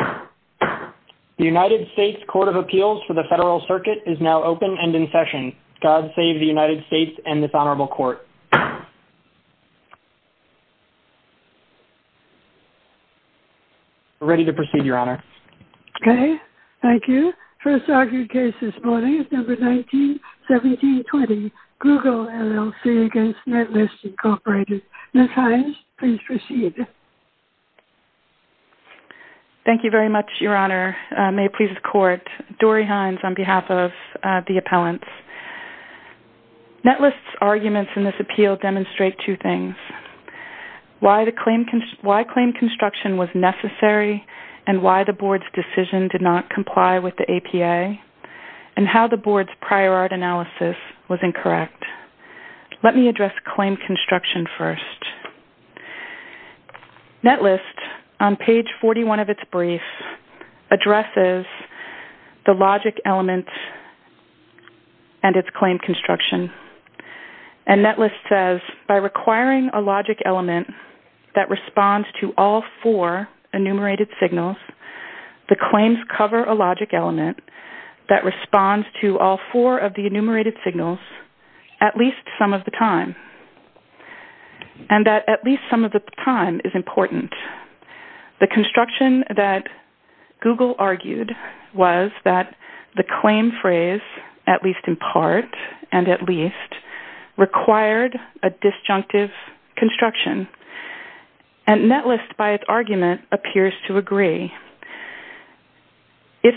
The United States Court of Appeals for the Federal Circuit is now open and in session. God save the United States and this honorable court. We're ready to proceed, Your Honor. Okay, thank you. First argued case this morning is number 191720, Google LLC v. Netlist, Inc. Ms. Hines, please proceed. Thank you very much, Your Honor. May it please the court. Dory Hines on behalf of the appellants. Netlist's arguments in this appeal demonstrate two things. Why claim construction was necessary and why the board's decision did not comply with the APA and how the board's prior art analysis was incorrect. Let me address claim construction first. Netlist, on page 41 of its brief, addresses the logic element and its claim construction. And Netlist says, by requiring a logic element that responds to all four enumerated signals, the claims cover a logic element that responds to all four of the enumerated signals at least some of the time. And that at least some of the time is important. The construction that Google argued was that the claim phrase, at least in part and at least, required a disjunctive construction. And Netlist, by its argument, appears to agree. If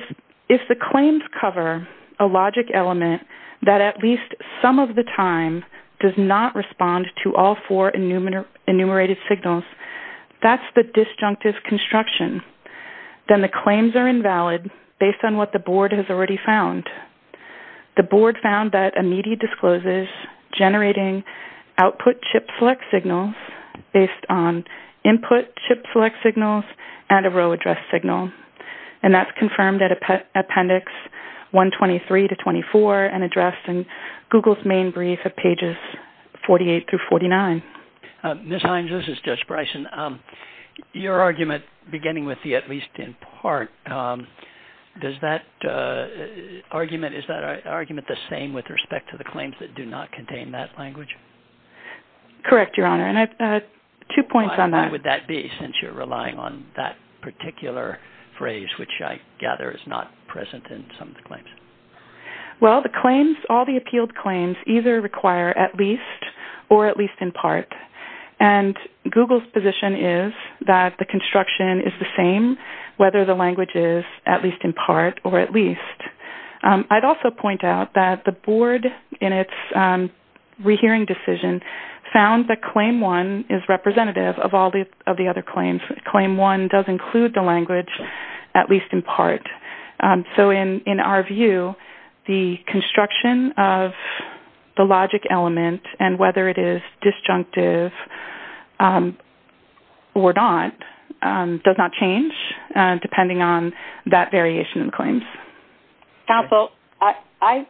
the claims cover a logic element that at least some of the time does not respond to all four enumerated signals, that's the disjunctive construction. Then the claims are invalid based on what the board has already found. The board found that a needy discloses generating output chip select signals based on input chip select signals and a row address signal. And that's confirmed at appendix 123 to 24 and addressed in Google's main brief of pages 48 through 49. Ms. Hines, this is Judge Bryson. Your argument, beginning with the at least in part, is that argument the same with respect to the claims that do not contain that language? Correct, Your Honor, and I have two points on that. Why would that be, since you're relying on that particular phrase, which I gather is not present in some of the claims? Well, all the appealed claims either require at least or at least in part. And Google's position is that the construction is the same whether the language is at least in part or at least. I'd also point out that the board in its rehearing decision found that claim one is representative of all of the other claims. Claim one does include the language at least in part. So in our view, the construction of the logic element, and whether it is disjunctive or not, does not change depending on that variation in claims. Counsel, I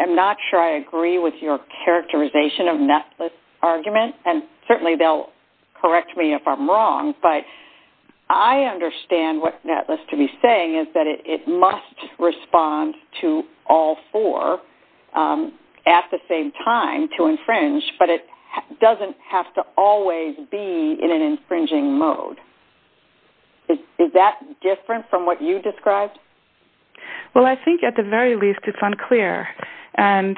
am not sure I agree with your characterization of Netless' argument, and certainly they'll correct me if I'm wrong, but I understand what Netless to be saying is that it must respond to all four at the same time to infringe, but it doesn't have to always be in an infringing mode. Is that different from what you described? Well, I think at the very least it's unclear. And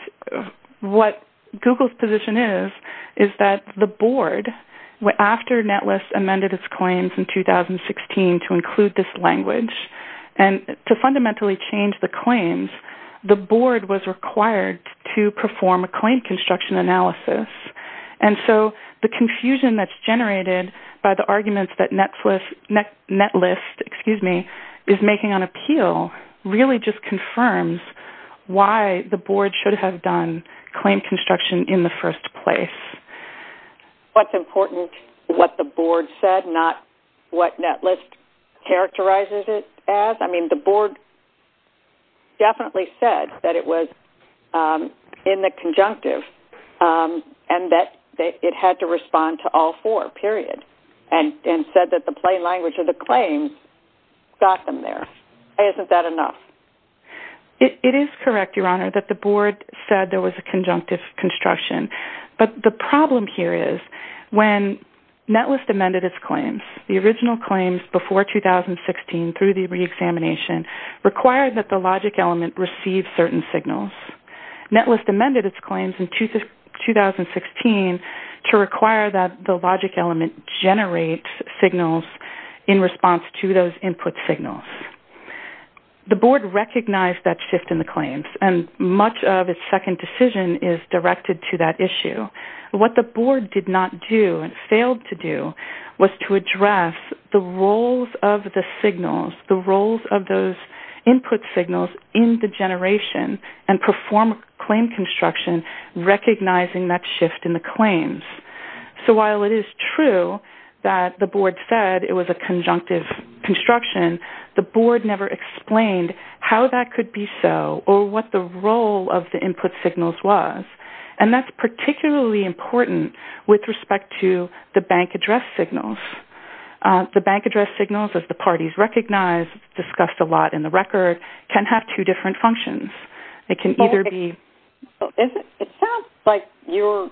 what Google's position is is that the board, after Netless amended its claims in 2016 to include this language, and to fundamentally change the claims, the board was required to perform a claim construction analysis. And so the confusion that's generated by the arguments that Netless is making on appeal really just confirms why the board should have done claim construction in the first place. What's important is what the board said, not what Netless characterizes it as. I mean, the board definitely said that it was in the conjunctive and that it had to respond to all four, period, and said that the plain language of the claims got them there. Isn't that enough? It is correct, Your Honor, that the board said there was a conjunctive construction. But the problem here is when Netless amended its claims, the original claims before 2016 through the reexamination, required that the logic element receive certain signals. Netless amended its claims in 2016 to require that the logic element generate signals in response to those input signals. The board recognized that shift in the claims, and much of its second decision is directed to that issue. What the board did not do and failed to do was to address the roles of the signals, the roles of those input signals in the generation and perform claim construction, recognizing that shift in the claims. So while it is true that the board said it was a conjunctive construction, the board never explained how that could be so or what the role of the input signals was. And that's particularly important with respect to the bank address signals. The bank address signals, as the parties recognized, discussed a lot in the record, can have two different functions. It can either be... It sounds like you're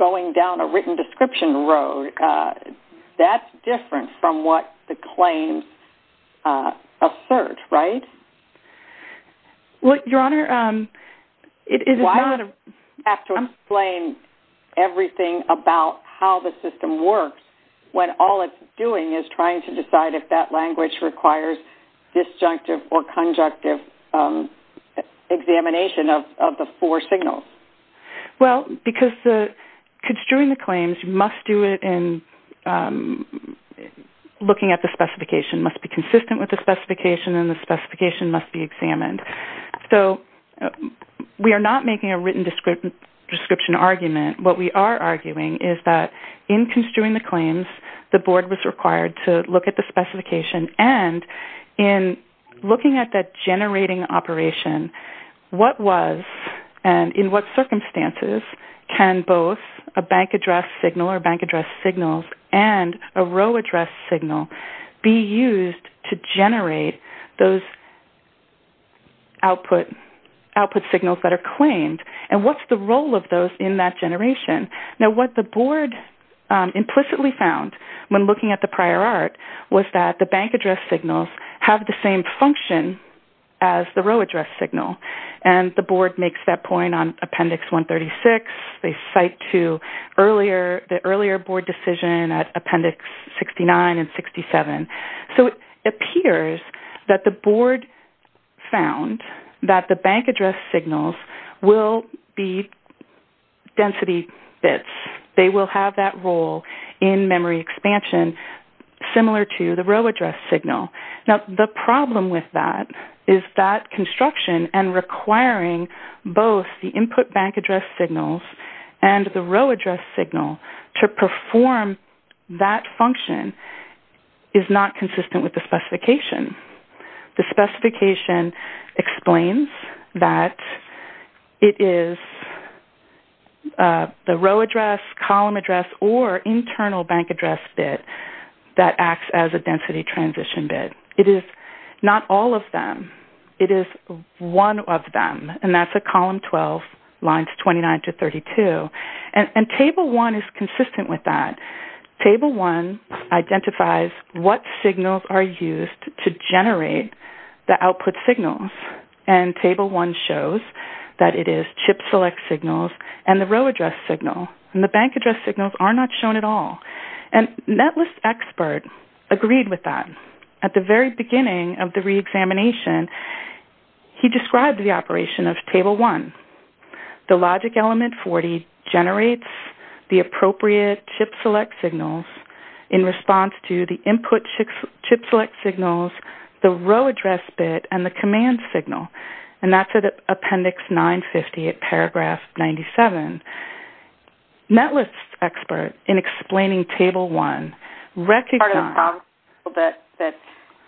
going down a written description road. That's different from what the claims assert, right? Well, Your Honor, it is not... You have to explain everything about how the system works when all it's doing is trying to decide if that language requires disjunctive or conjunctive examination of the four signals. Well, because construing the claims, you must do it in looking at the specification. It must be consistent with the specification, and the specification must be examined. So we are not making a written description argument. What we are arguing is that in construing the claims, the board was required to look at the specification, and in looking at that generating operation, what was and in what circumstances can both a bank address signal or bank address signals and a row address signal be used to generate those output signals that are claimed, and what's the role of those in that generation? Now, what the board implicitly found when looking at the prior art was that the bank address signals have the same function as the row address signal, and the board makes that point on Appendix 136. They cite to the earlier board decision at Appendix 69 and 67. So it appears that the board found that the bank address signals will be density bits. They will have that role in memory expansion similar to the row address signal. Now, the problem with that is that construction and requiring both the input bank address signals and the row address signal to perform that function is not consistent with the specification. The specification explains that it is the row address, column address, or internal bank address bit that acts as a density transition bit. It is not all of them. It is one of them, and that's at column 12, lines 29 to 32. And Table 1 is consistent with that. Table 1 identifies what signals are used to generate the output signals, and Table 1 shows that it is chip select signals and the row address signal, and the bank address signals are not shown at all. And Netlist's expert agreed with that. At the very beginning of the reexamination, he described the operation of Table 1. The logic element 40 generates the appropriate chip select signals in response to the input chip select signals, the row address bit, and the command signal, and that's at Appendix 950 at Paragraph 97. Netlist's expert, in explaining Table 1, recognized that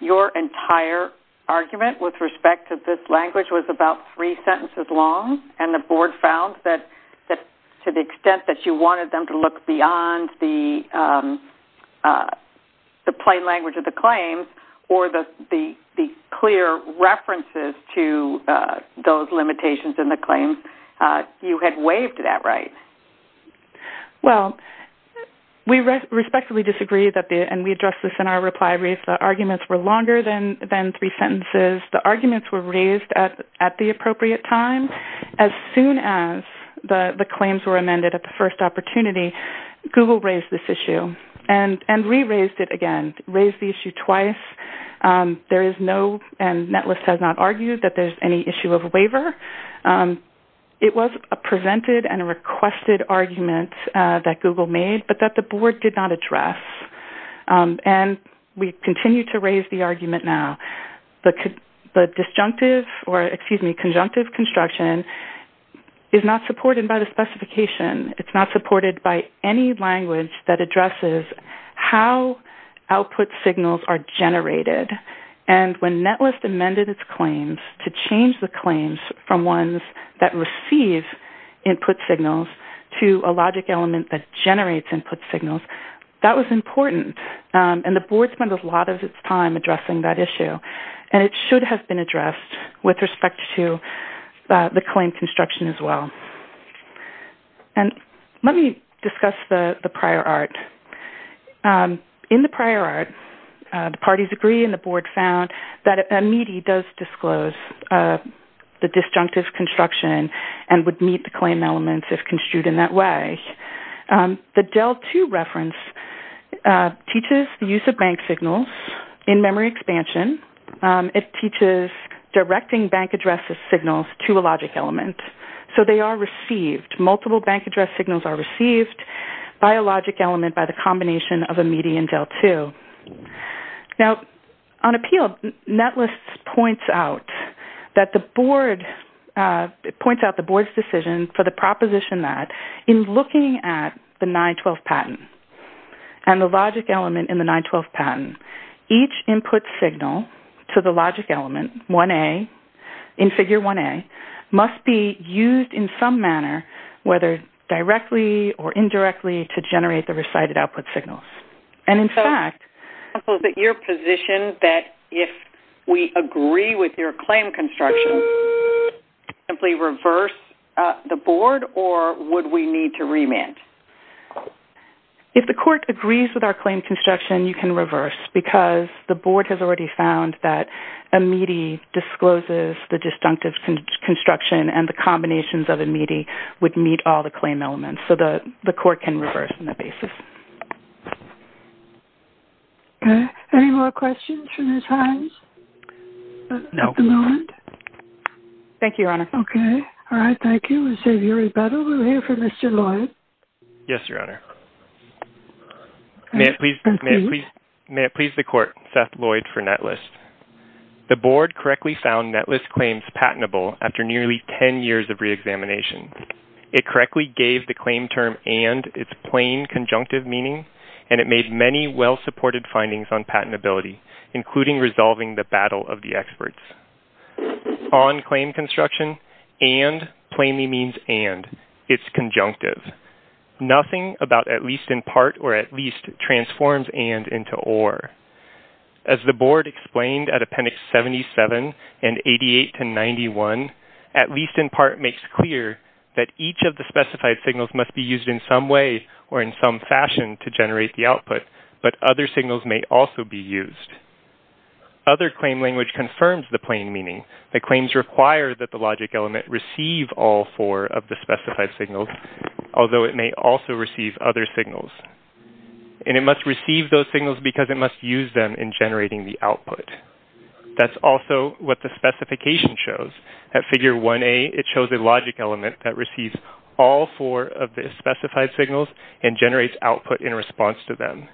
your entire argument with respect to this language was about three sentences long. And the Board found that to the extent that you wanted them to look beyond the plain language of the claims or the clear references to those limitations in the claims, you had waived that right. Well, we respectively disagreed, and we addressed this in our reply brief. The arguments were longer than three sentences. The arguments were raised at the appropriate time. As soon as the claims were amended at the first opportunity, Google raised this issue and re-raised it again, raised the issue twice. There is no, and Netlist has not argued, that there's any issue of a waiver. It was a presented and a requested argument that Google made, but that the Board did not address. And we continue to raise the argument now. The disjunctive or, excuse me, conjunctive construction is not supported by the specification. It's not supported by any language that addresses how output signals are generated. And when Netlist amended its claims to change the claims from ones that receive input signals to a logic element that generates input signals, that was important. And the Board spent a lot of its time addressing that issue. And it should have been addressed with respect to the claim construction as well. And let me discuss the prior art. In the prior art, the parties agree and the Board found that a MEDI does disclose the disjunctive construction and would meet the claim elements if construed in that way. The DEL2 reference teaches the use of bank signals in memory expansion. It teaches directing bank addresses signals to a logic element. So they are received. Multiple bank address signals are received. By a logic element, by the combination of a MEDI and DEL2. Now, on appeal, Netlist points out that the Board's decision for the proposition that in looking at the 912 patent and the logic element in the 912 patent, each input signal to the logic element 1A, in figure 1A, must be used in some manner, whether directly or indirectly, to generate the recited output signals. And in fact... So, is it your position that if we agree with your claim construction, simply reverse the Board or would we need to remand? If the Court agrees with our claim construction, you can reverse. Because the Board has already found that a MEDI discloses the disjunctive construction and the combinations of a MEDI would meet all the claim elements. So the Court can reverse on that basis. Okay. Any more questions for Ms. Hines? At the moment? Thank you, Your Honor. Okay. All right. Thank you. We'll hear from Mr. Lloyd. Yes, Your Honor. May it please the Court, Seth Lloyd for Netlist. The Board correctly found Netlist claims patentable after nearly 10 years of reexamination. It correctly gave the claim term and its plain conjunctive meaning, and it made many well-supported findings on patentability, including resolving the battle of the experts. On claim construction, and plainly means and. It's conjunctive. Nothing about at least in part or at least transforms and into or. As the Board explained at Appendix 77 and 88 to 91, at least in part makes clear that each of the specified signals must be used in some way or in some fashion to generate the output, but other signals may also be used. Other claim language confirms the plain meaning. The claims require that the logic element receive all four of the specified signals, although it may also receive other signals. And it must receive those signals because it must use them in generating the output. That's also what the specification shows. At Figure 1A, it shows a logic element that receives all four of the specified signals and generates output in response to them.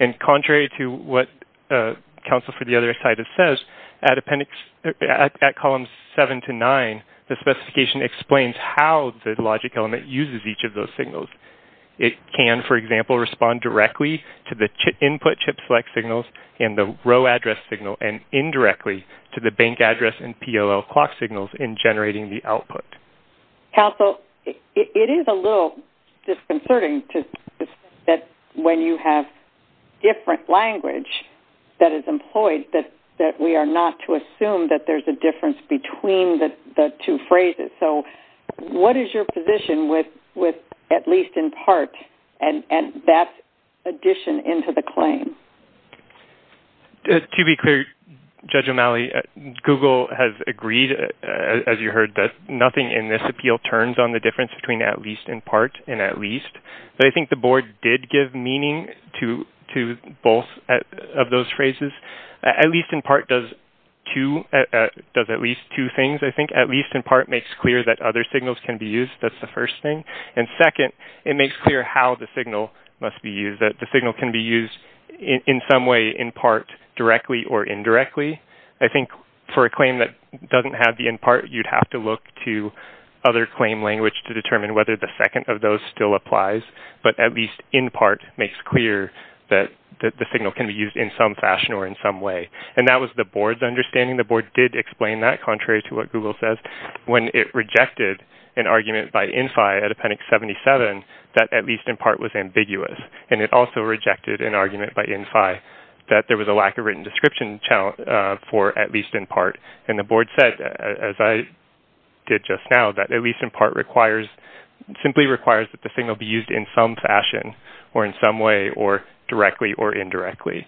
And contrary to what Council for the Other Side has said, at Columns 7 to 9, the specification explains how the logic element uses each of those signals. It can, for example, respond directly to the input chip select signals and the row address signal and indirectly to the bank address and PLL clock signals in generating the output. Council, it is a little disconcerting that when you have different language that is employed that we are not to assume that there's a difference between the two phrases. So what is your position with at least in part and that addition into the claim? To be clear, Judge O'Malley, Google has agreed, as you heard, that nothing in this appeal turns on the difference between at least in part and at least. But I think the board did give meaning to both of those phrases. At least in part does at least two things, I think. At least in part makes clear that other signals can be used. That's the first thing. And second, it makes clear how the signal must be used, that the signal can be used in some way in part directly or indirectly. I think for a claim that doesn't have the in part, you'd have to look to other claim language to determine whether the second of those still applies. But at least in part makes clear that the signal can be used in some fashion or in some way. And that was the board's understanding. The board did explain that, contrary to what Google says, when it rejected an argument by INFI at Appendix 77 that at least in part was ambiguous. And it also rejected an argument by INFI that there was a lack of written description for at least in part. And the board said, as I did just now, that at least in part simply requires that the signal be used in some fashion or in some way or directly or indirectly.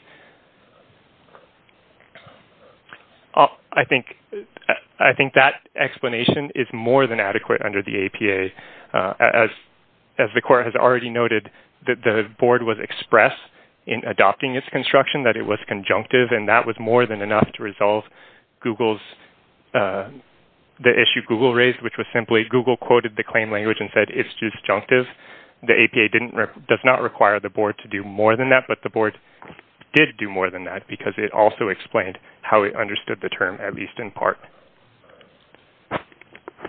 I think that explanation is more than adequate under the APA. As the court has already noted, the board was express in adopting its construction that it was conjunctive. And that was more than enough to resolve the issue Google raised, which was simply Google quoted the claim language and said it's just conjunctive. The APA does not require the board to do more than that, but the board did do more than that because it also explained how it understood the term at least in part.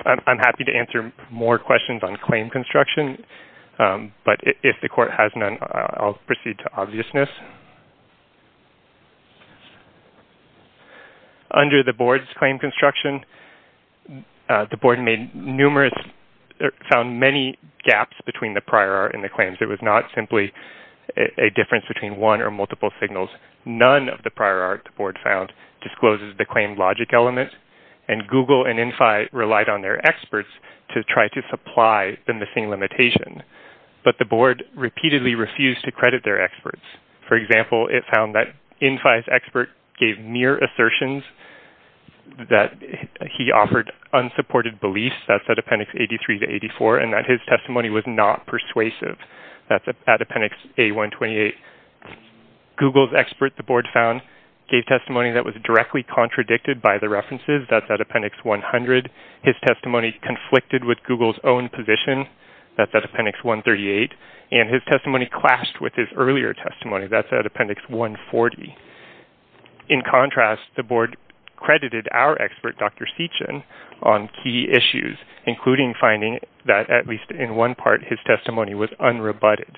I'm happy to answer more questions on claim construction, but if the court has none, I'll proceed to obviousness. Under the board's claim construction, the board found many gaps between the prior art and the claims. It was not simply a difference between one or multiple signals. None of the prior art the board found discloses the claim logic element. And Google and INFI relied on their experts to try to supply the missing limitation. But the board repeatedly refused to credit their experts. For example, it found that INFI's expert gave mere assertions that he offered unsupported beliefs. That's at appendix 83 to 84. And that his testimony was not persuasive. That's at appendix A128. Google's expert, the board found, gave testimony that was directly contradicted by the references. That's at appendix 100. His testimony conflicted with Google's own position. That's at appendix 138. And his testimony clashed with his earlier testimony. That's at appendix 140. In contrast, the board credited our expert, Dr. Seachin, on key issues, including finding that, at least in one part, his testimony was unrebutted.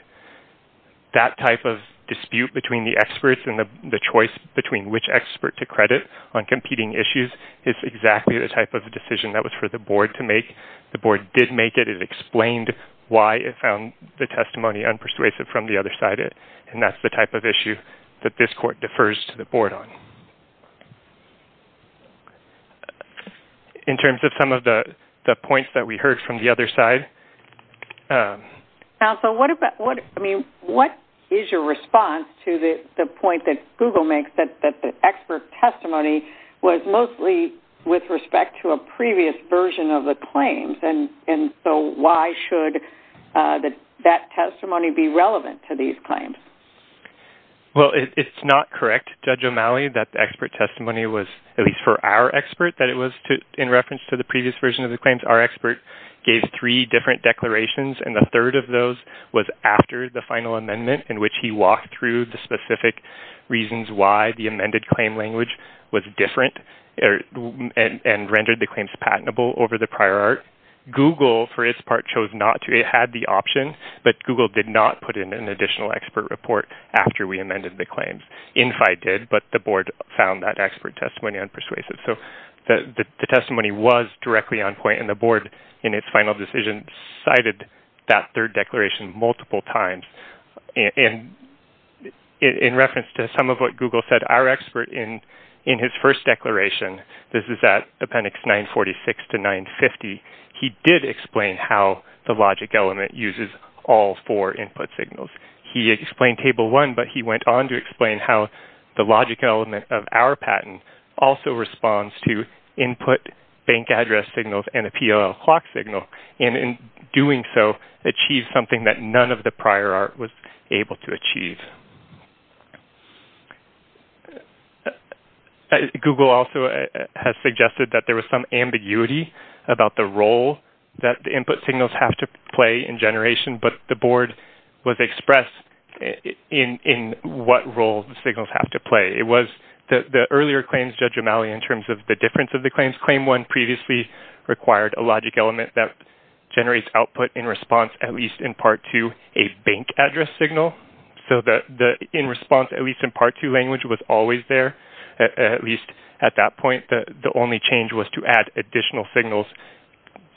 That type of dispute between the experts and the choice between which expert to credit on competing issues is exactly the type of decision that was for the board to make. The board did make it. It explained why it found the testimony unpersuasive from the other side. And that's the type of issue that this court defers to the board on. In terms of some of the points that we heard from the other side. What is your response to the point that Google makes that the expert testimony was mostly with respect to a previous version of the claims? And so why should that testimony be relevant to these claims? Well, it's not correct, Judge O'Malley, that the expert testimony was, at least for our expert, that it was in reference to the previous version of the claims. Our expert gave three different declarations, and the third of those was after the final amendment in which he walked through the specific reasons why the amended claim language was different and rendered the claims patentable over the prior art. Google, for its part, chose not to. It had the option, but Google did not put in an additional expert report after we amended the claims. Infi did, but the board found that expert testimony unpersuasive. So the testimony was directly on point, and the board, in its final decision, cited that third declaration multiple times. And in reference to some of what Google said, our expert, in his first declaration, this is at appendix 946 to 950, he did explain how the logic element uses all four input signals. He explained Table 1, but he went on to explain how the logic element of our patent also responds to input bank address signals and a PLL clock signal. And in doing so, achieved something that none of the prior art was able to achieve. Google also has suggested that there was some ambiguity about the role that the input signals have to play in generation, but the board was expressed in what role the signals have to play. It was the earlier claims, Judge O'Malley, in terms of the difference of the claims. Claim 1 previously required a logic element that generates output in response, at least in Part 2, a bank address signal. So the in response, at least in Part 2, language was always there, at least at that point. The only change was to add additional signals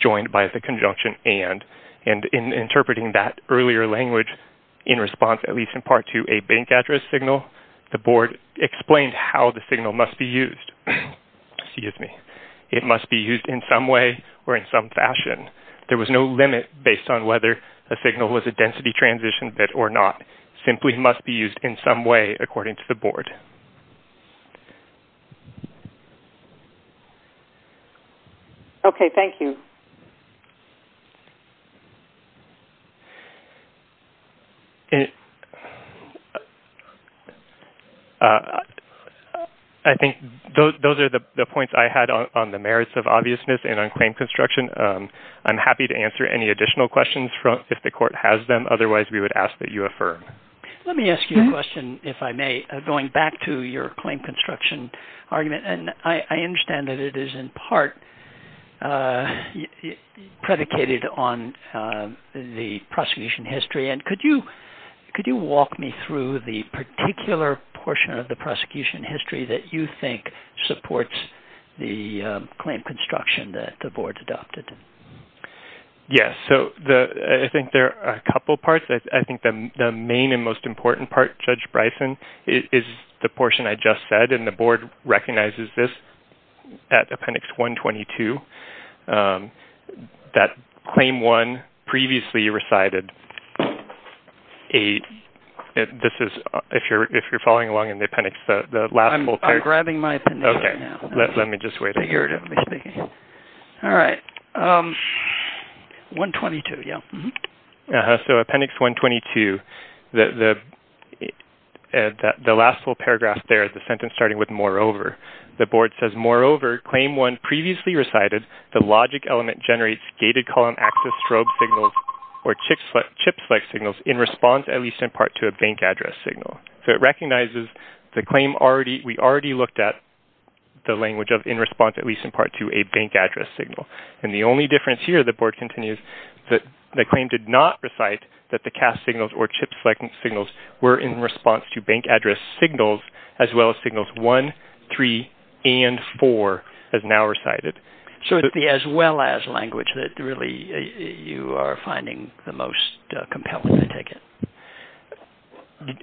joined by the conjunction and. And in interpreting that earlier language in response, at least in Part 2, a bank address signal, the board explained how the signal must be used. Excuse me. It must be used in some way or in some fashion. There was no limit based on whether a signal was a density transition bit or not. Simply must be used in some way according to the board. Okay, thank you. I think those are the points I had on the merits of obviousness and on claim construction. I'm happy to answer any additional questions if the court has them. Otherwise, we would ask that you affirm. Let me ask you a question, if I may. Going back to your claim construction argument, I understand that it is in part predicated on the prosecution history. Could you walk me through the particular portion of the prosecution history that you think supports the claim construction that the board has adopted? Yes. I think there are a couple parts. I think the main and most important part, Judge Bryson, is the portion I just said. And the board recognizes this at Appendix 122. That Claim 1 previously recited. If you're following along in the appendix, the last whole thing. I'm grabbing my appendix right now. Let me just wait. Figuratively speaking. All right. 122, yes. So Appendix 122, the last whole paragraph there, the sentence starting with moreover. The board says, moreover, Claim 1 previously recited, the logic element generates gated column access strobe signals or chip select signals in response at least in part to a bank address signal. So it recognizes the claim we already looked at, the language of in response at least in part to a bank address signal. And the only difference here, the board continues, the claim did not recite that the cast signals or chip select signals were in response to bank address signals as well as signals 1, 3, and 4 as now recited. So it's the as well as language that really you are finding the most compelling, I take it?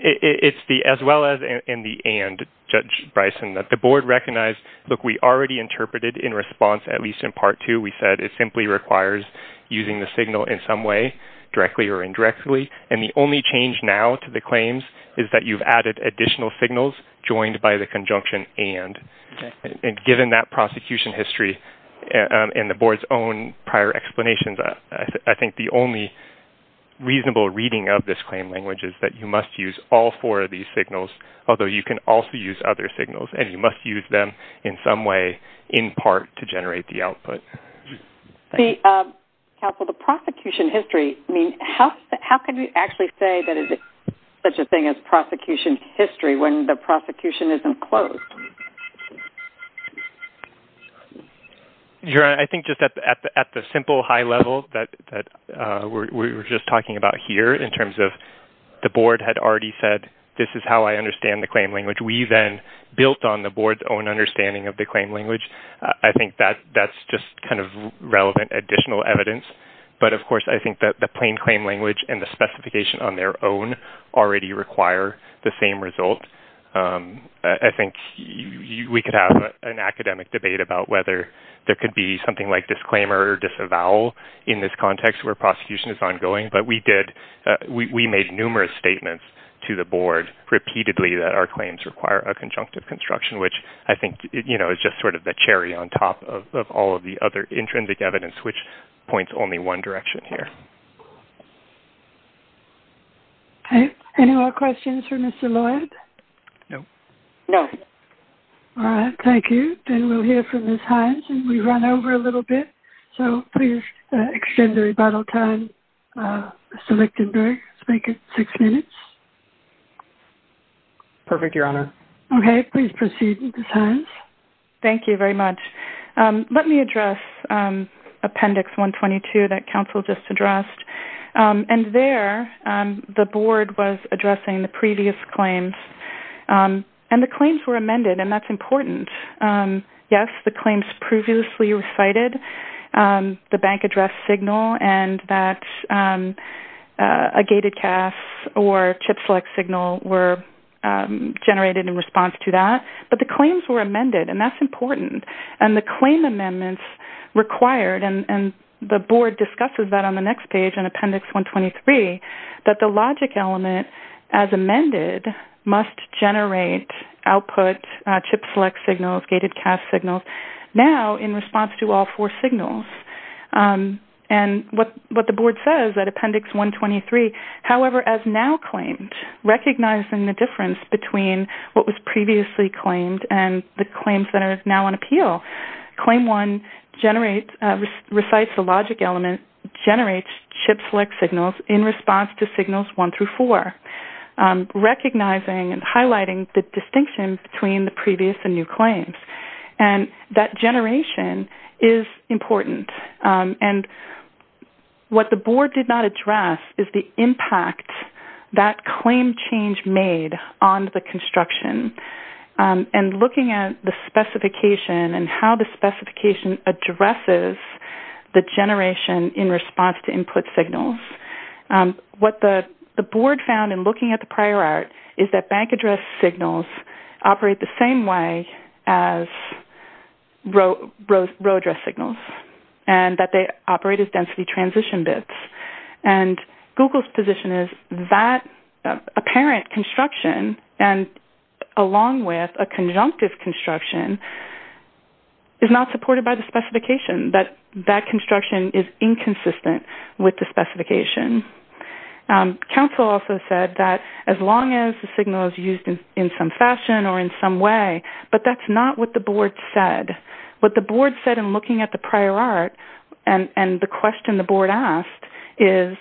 It's the as well as and the and, Judge Bryson. The board recognized, look, we already interpreted in response at least in part to. We said it simply requires using the signal in some way, directly or indirectly. And the only change now to the claims is that you've added additional signals joined by the conjunction and. And given that prosecution history and the board's own prior explanations, I think the only reasonable reading of this claim language is that you must use all four of these signals, although you can also use other signals. And you must use them in some way in part to generate the output. Counsel, the prosecution history, I mean, how can you actually say that it's such a thing as prosecution history when the prosecution isn't closed? I think just at the simple high level that we were just talking about here in terms of the board had already said, this is how I understand the claim language. We then built on the board's own understanding of the claim language. I think that that's just kind of relevant additional evidence. But, of course, I think that the plain claim language and the specification on their own already require the same result. I think we could have an academic debate about whether there could be something like disclaimer or disavowal in this context where prosecution is ongoing. But we made numerous statements to the board repeatedly that our claims require a conjunctive construction, which I think is just sort of the cherry on top of all of the other intrinsic evidence, which points only one direction here. Okay. Any more questions for Mr. Lloyd? No. No. All right. Thank you. Then we'll hear from Ms. Hines, and we've run over a little bit. So please extend the rebuttal time, Mr. Lichtenberg. Make it six minutes. Perfect, Your Honor. Okay. Please proceed, Ms. Hines. Thank you very much. Let me address Appendix 122 that counsel just addressed. And there the board was addressing the previous claims, and the claims were amended, and that's important. Yes, the claims previously recited, the bank address signal and that gated CAS or chip select signal were generated in response to that. But the claims were amended, and that's important. And the claim amendments required, and the board discusses that on the next page in Appendix 123, that the logic element as amended must generate output chip select signals, gated CAS signals, now in response to all four signals. And what the board says at Appendix 123, however, as now claimed, recognizing the difference between what was previously claimed and the claims that are now on appeal, claim one recites the logic element, generates chip select signals in response to signals one through four, recognizing and highlighting the distinction between the previous and new claims. And that generation is important. And what the board did not address is the impact that claim change made on the construction, and looking at the specification and how the specification addresses the generation in response to input signals. What the board found in looking at the prior art is that bank address signals operate the same way as row address signals, and that they operate as density transition bits. And Google's position is that apparent construction, and along with a conjunctive construction, is not supported by the specification, that that construction is inconsistent with the specification. Council also said that as long as the signal is used in some fashion or in some way, but that's not what the board said. What the board said in looking at the prior art and the question the board asked is,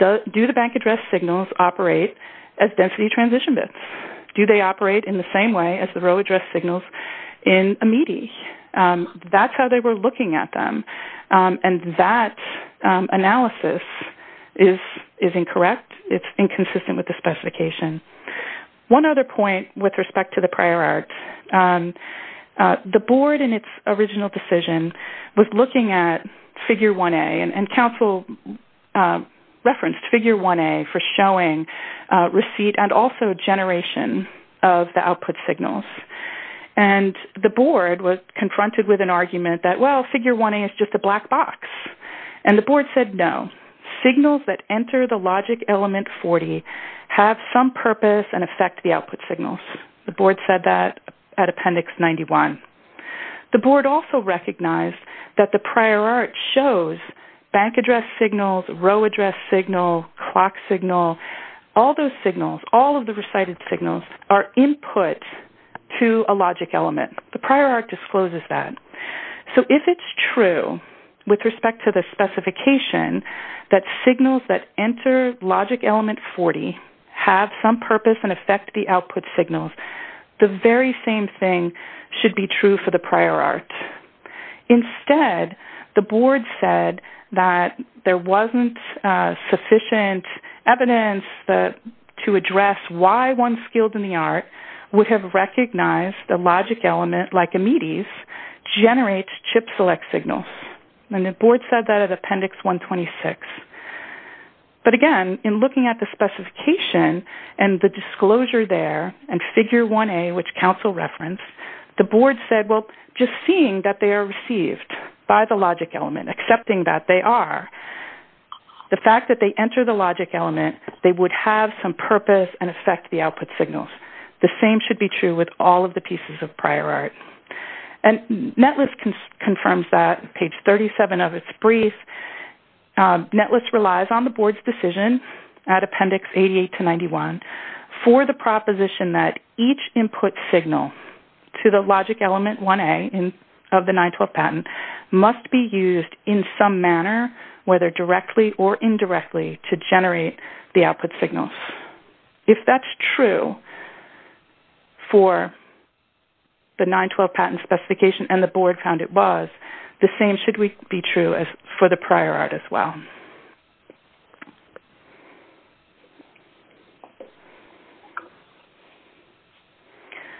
do the bank address signals operate as density transition bits? Do they operate in the same way as the row address signals in a METI? That's how they were looking at them, and that analysis is incorrect. It's inconsistent with the specification. One other point with respect to the prior art, the board in its original decision was looking at figure 1A, and council referenced figure 1A for showing receipt and also generation of the output signals. And the board was confronted with an argument that, well, figure 1A is just a black box. And the board said no. Signals that enter the logic element 40 have some purpose and affect the output signals. The board said that at appendix 91. The board also recognized that the prior art shows bank address signals, row address signal, clock signal. All those signals, all of the recited signals are input to a logic element. The prior art discloses that. So if it's true with respect to the specification that signals that enter logic element 40 have some purpose and affect the output signals, the very same thing should be true for the prior art. Instead, the board said that there wasn't sufficient evidence to address why one skilled in the art would have recognized the logic element, like a METIs, generates chip select signals. And the board said that at appendix 126. But again, in looking at the specification and the disclosure there and figure 1A, which counsel referenced, the board said, well, just seeing that they are received by the logic element, accepting that they are, the fact that they enter the logic element, they would have some purpose and affect the output signals. The same should be true with all of the pieces of prior art. And NETLIST confirms that. Page 37 of its brief. NETLIST relies on the board's decision at appendix 88 to 91 for the proposition that each input signal to the logic element 1A of the 912 patent must be used in some manner, whether directly or indirectly, to generate the output signals. If that's true for the 912 patent specification and the board found it was, the same should be true for the prior art as well.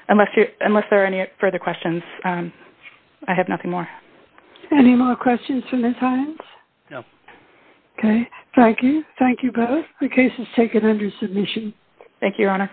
Unless there are any further questions, I have nothing more. Any more questions for Ms. Hines? No. Okay. Thank you. Thank you both. The case is taken under submission.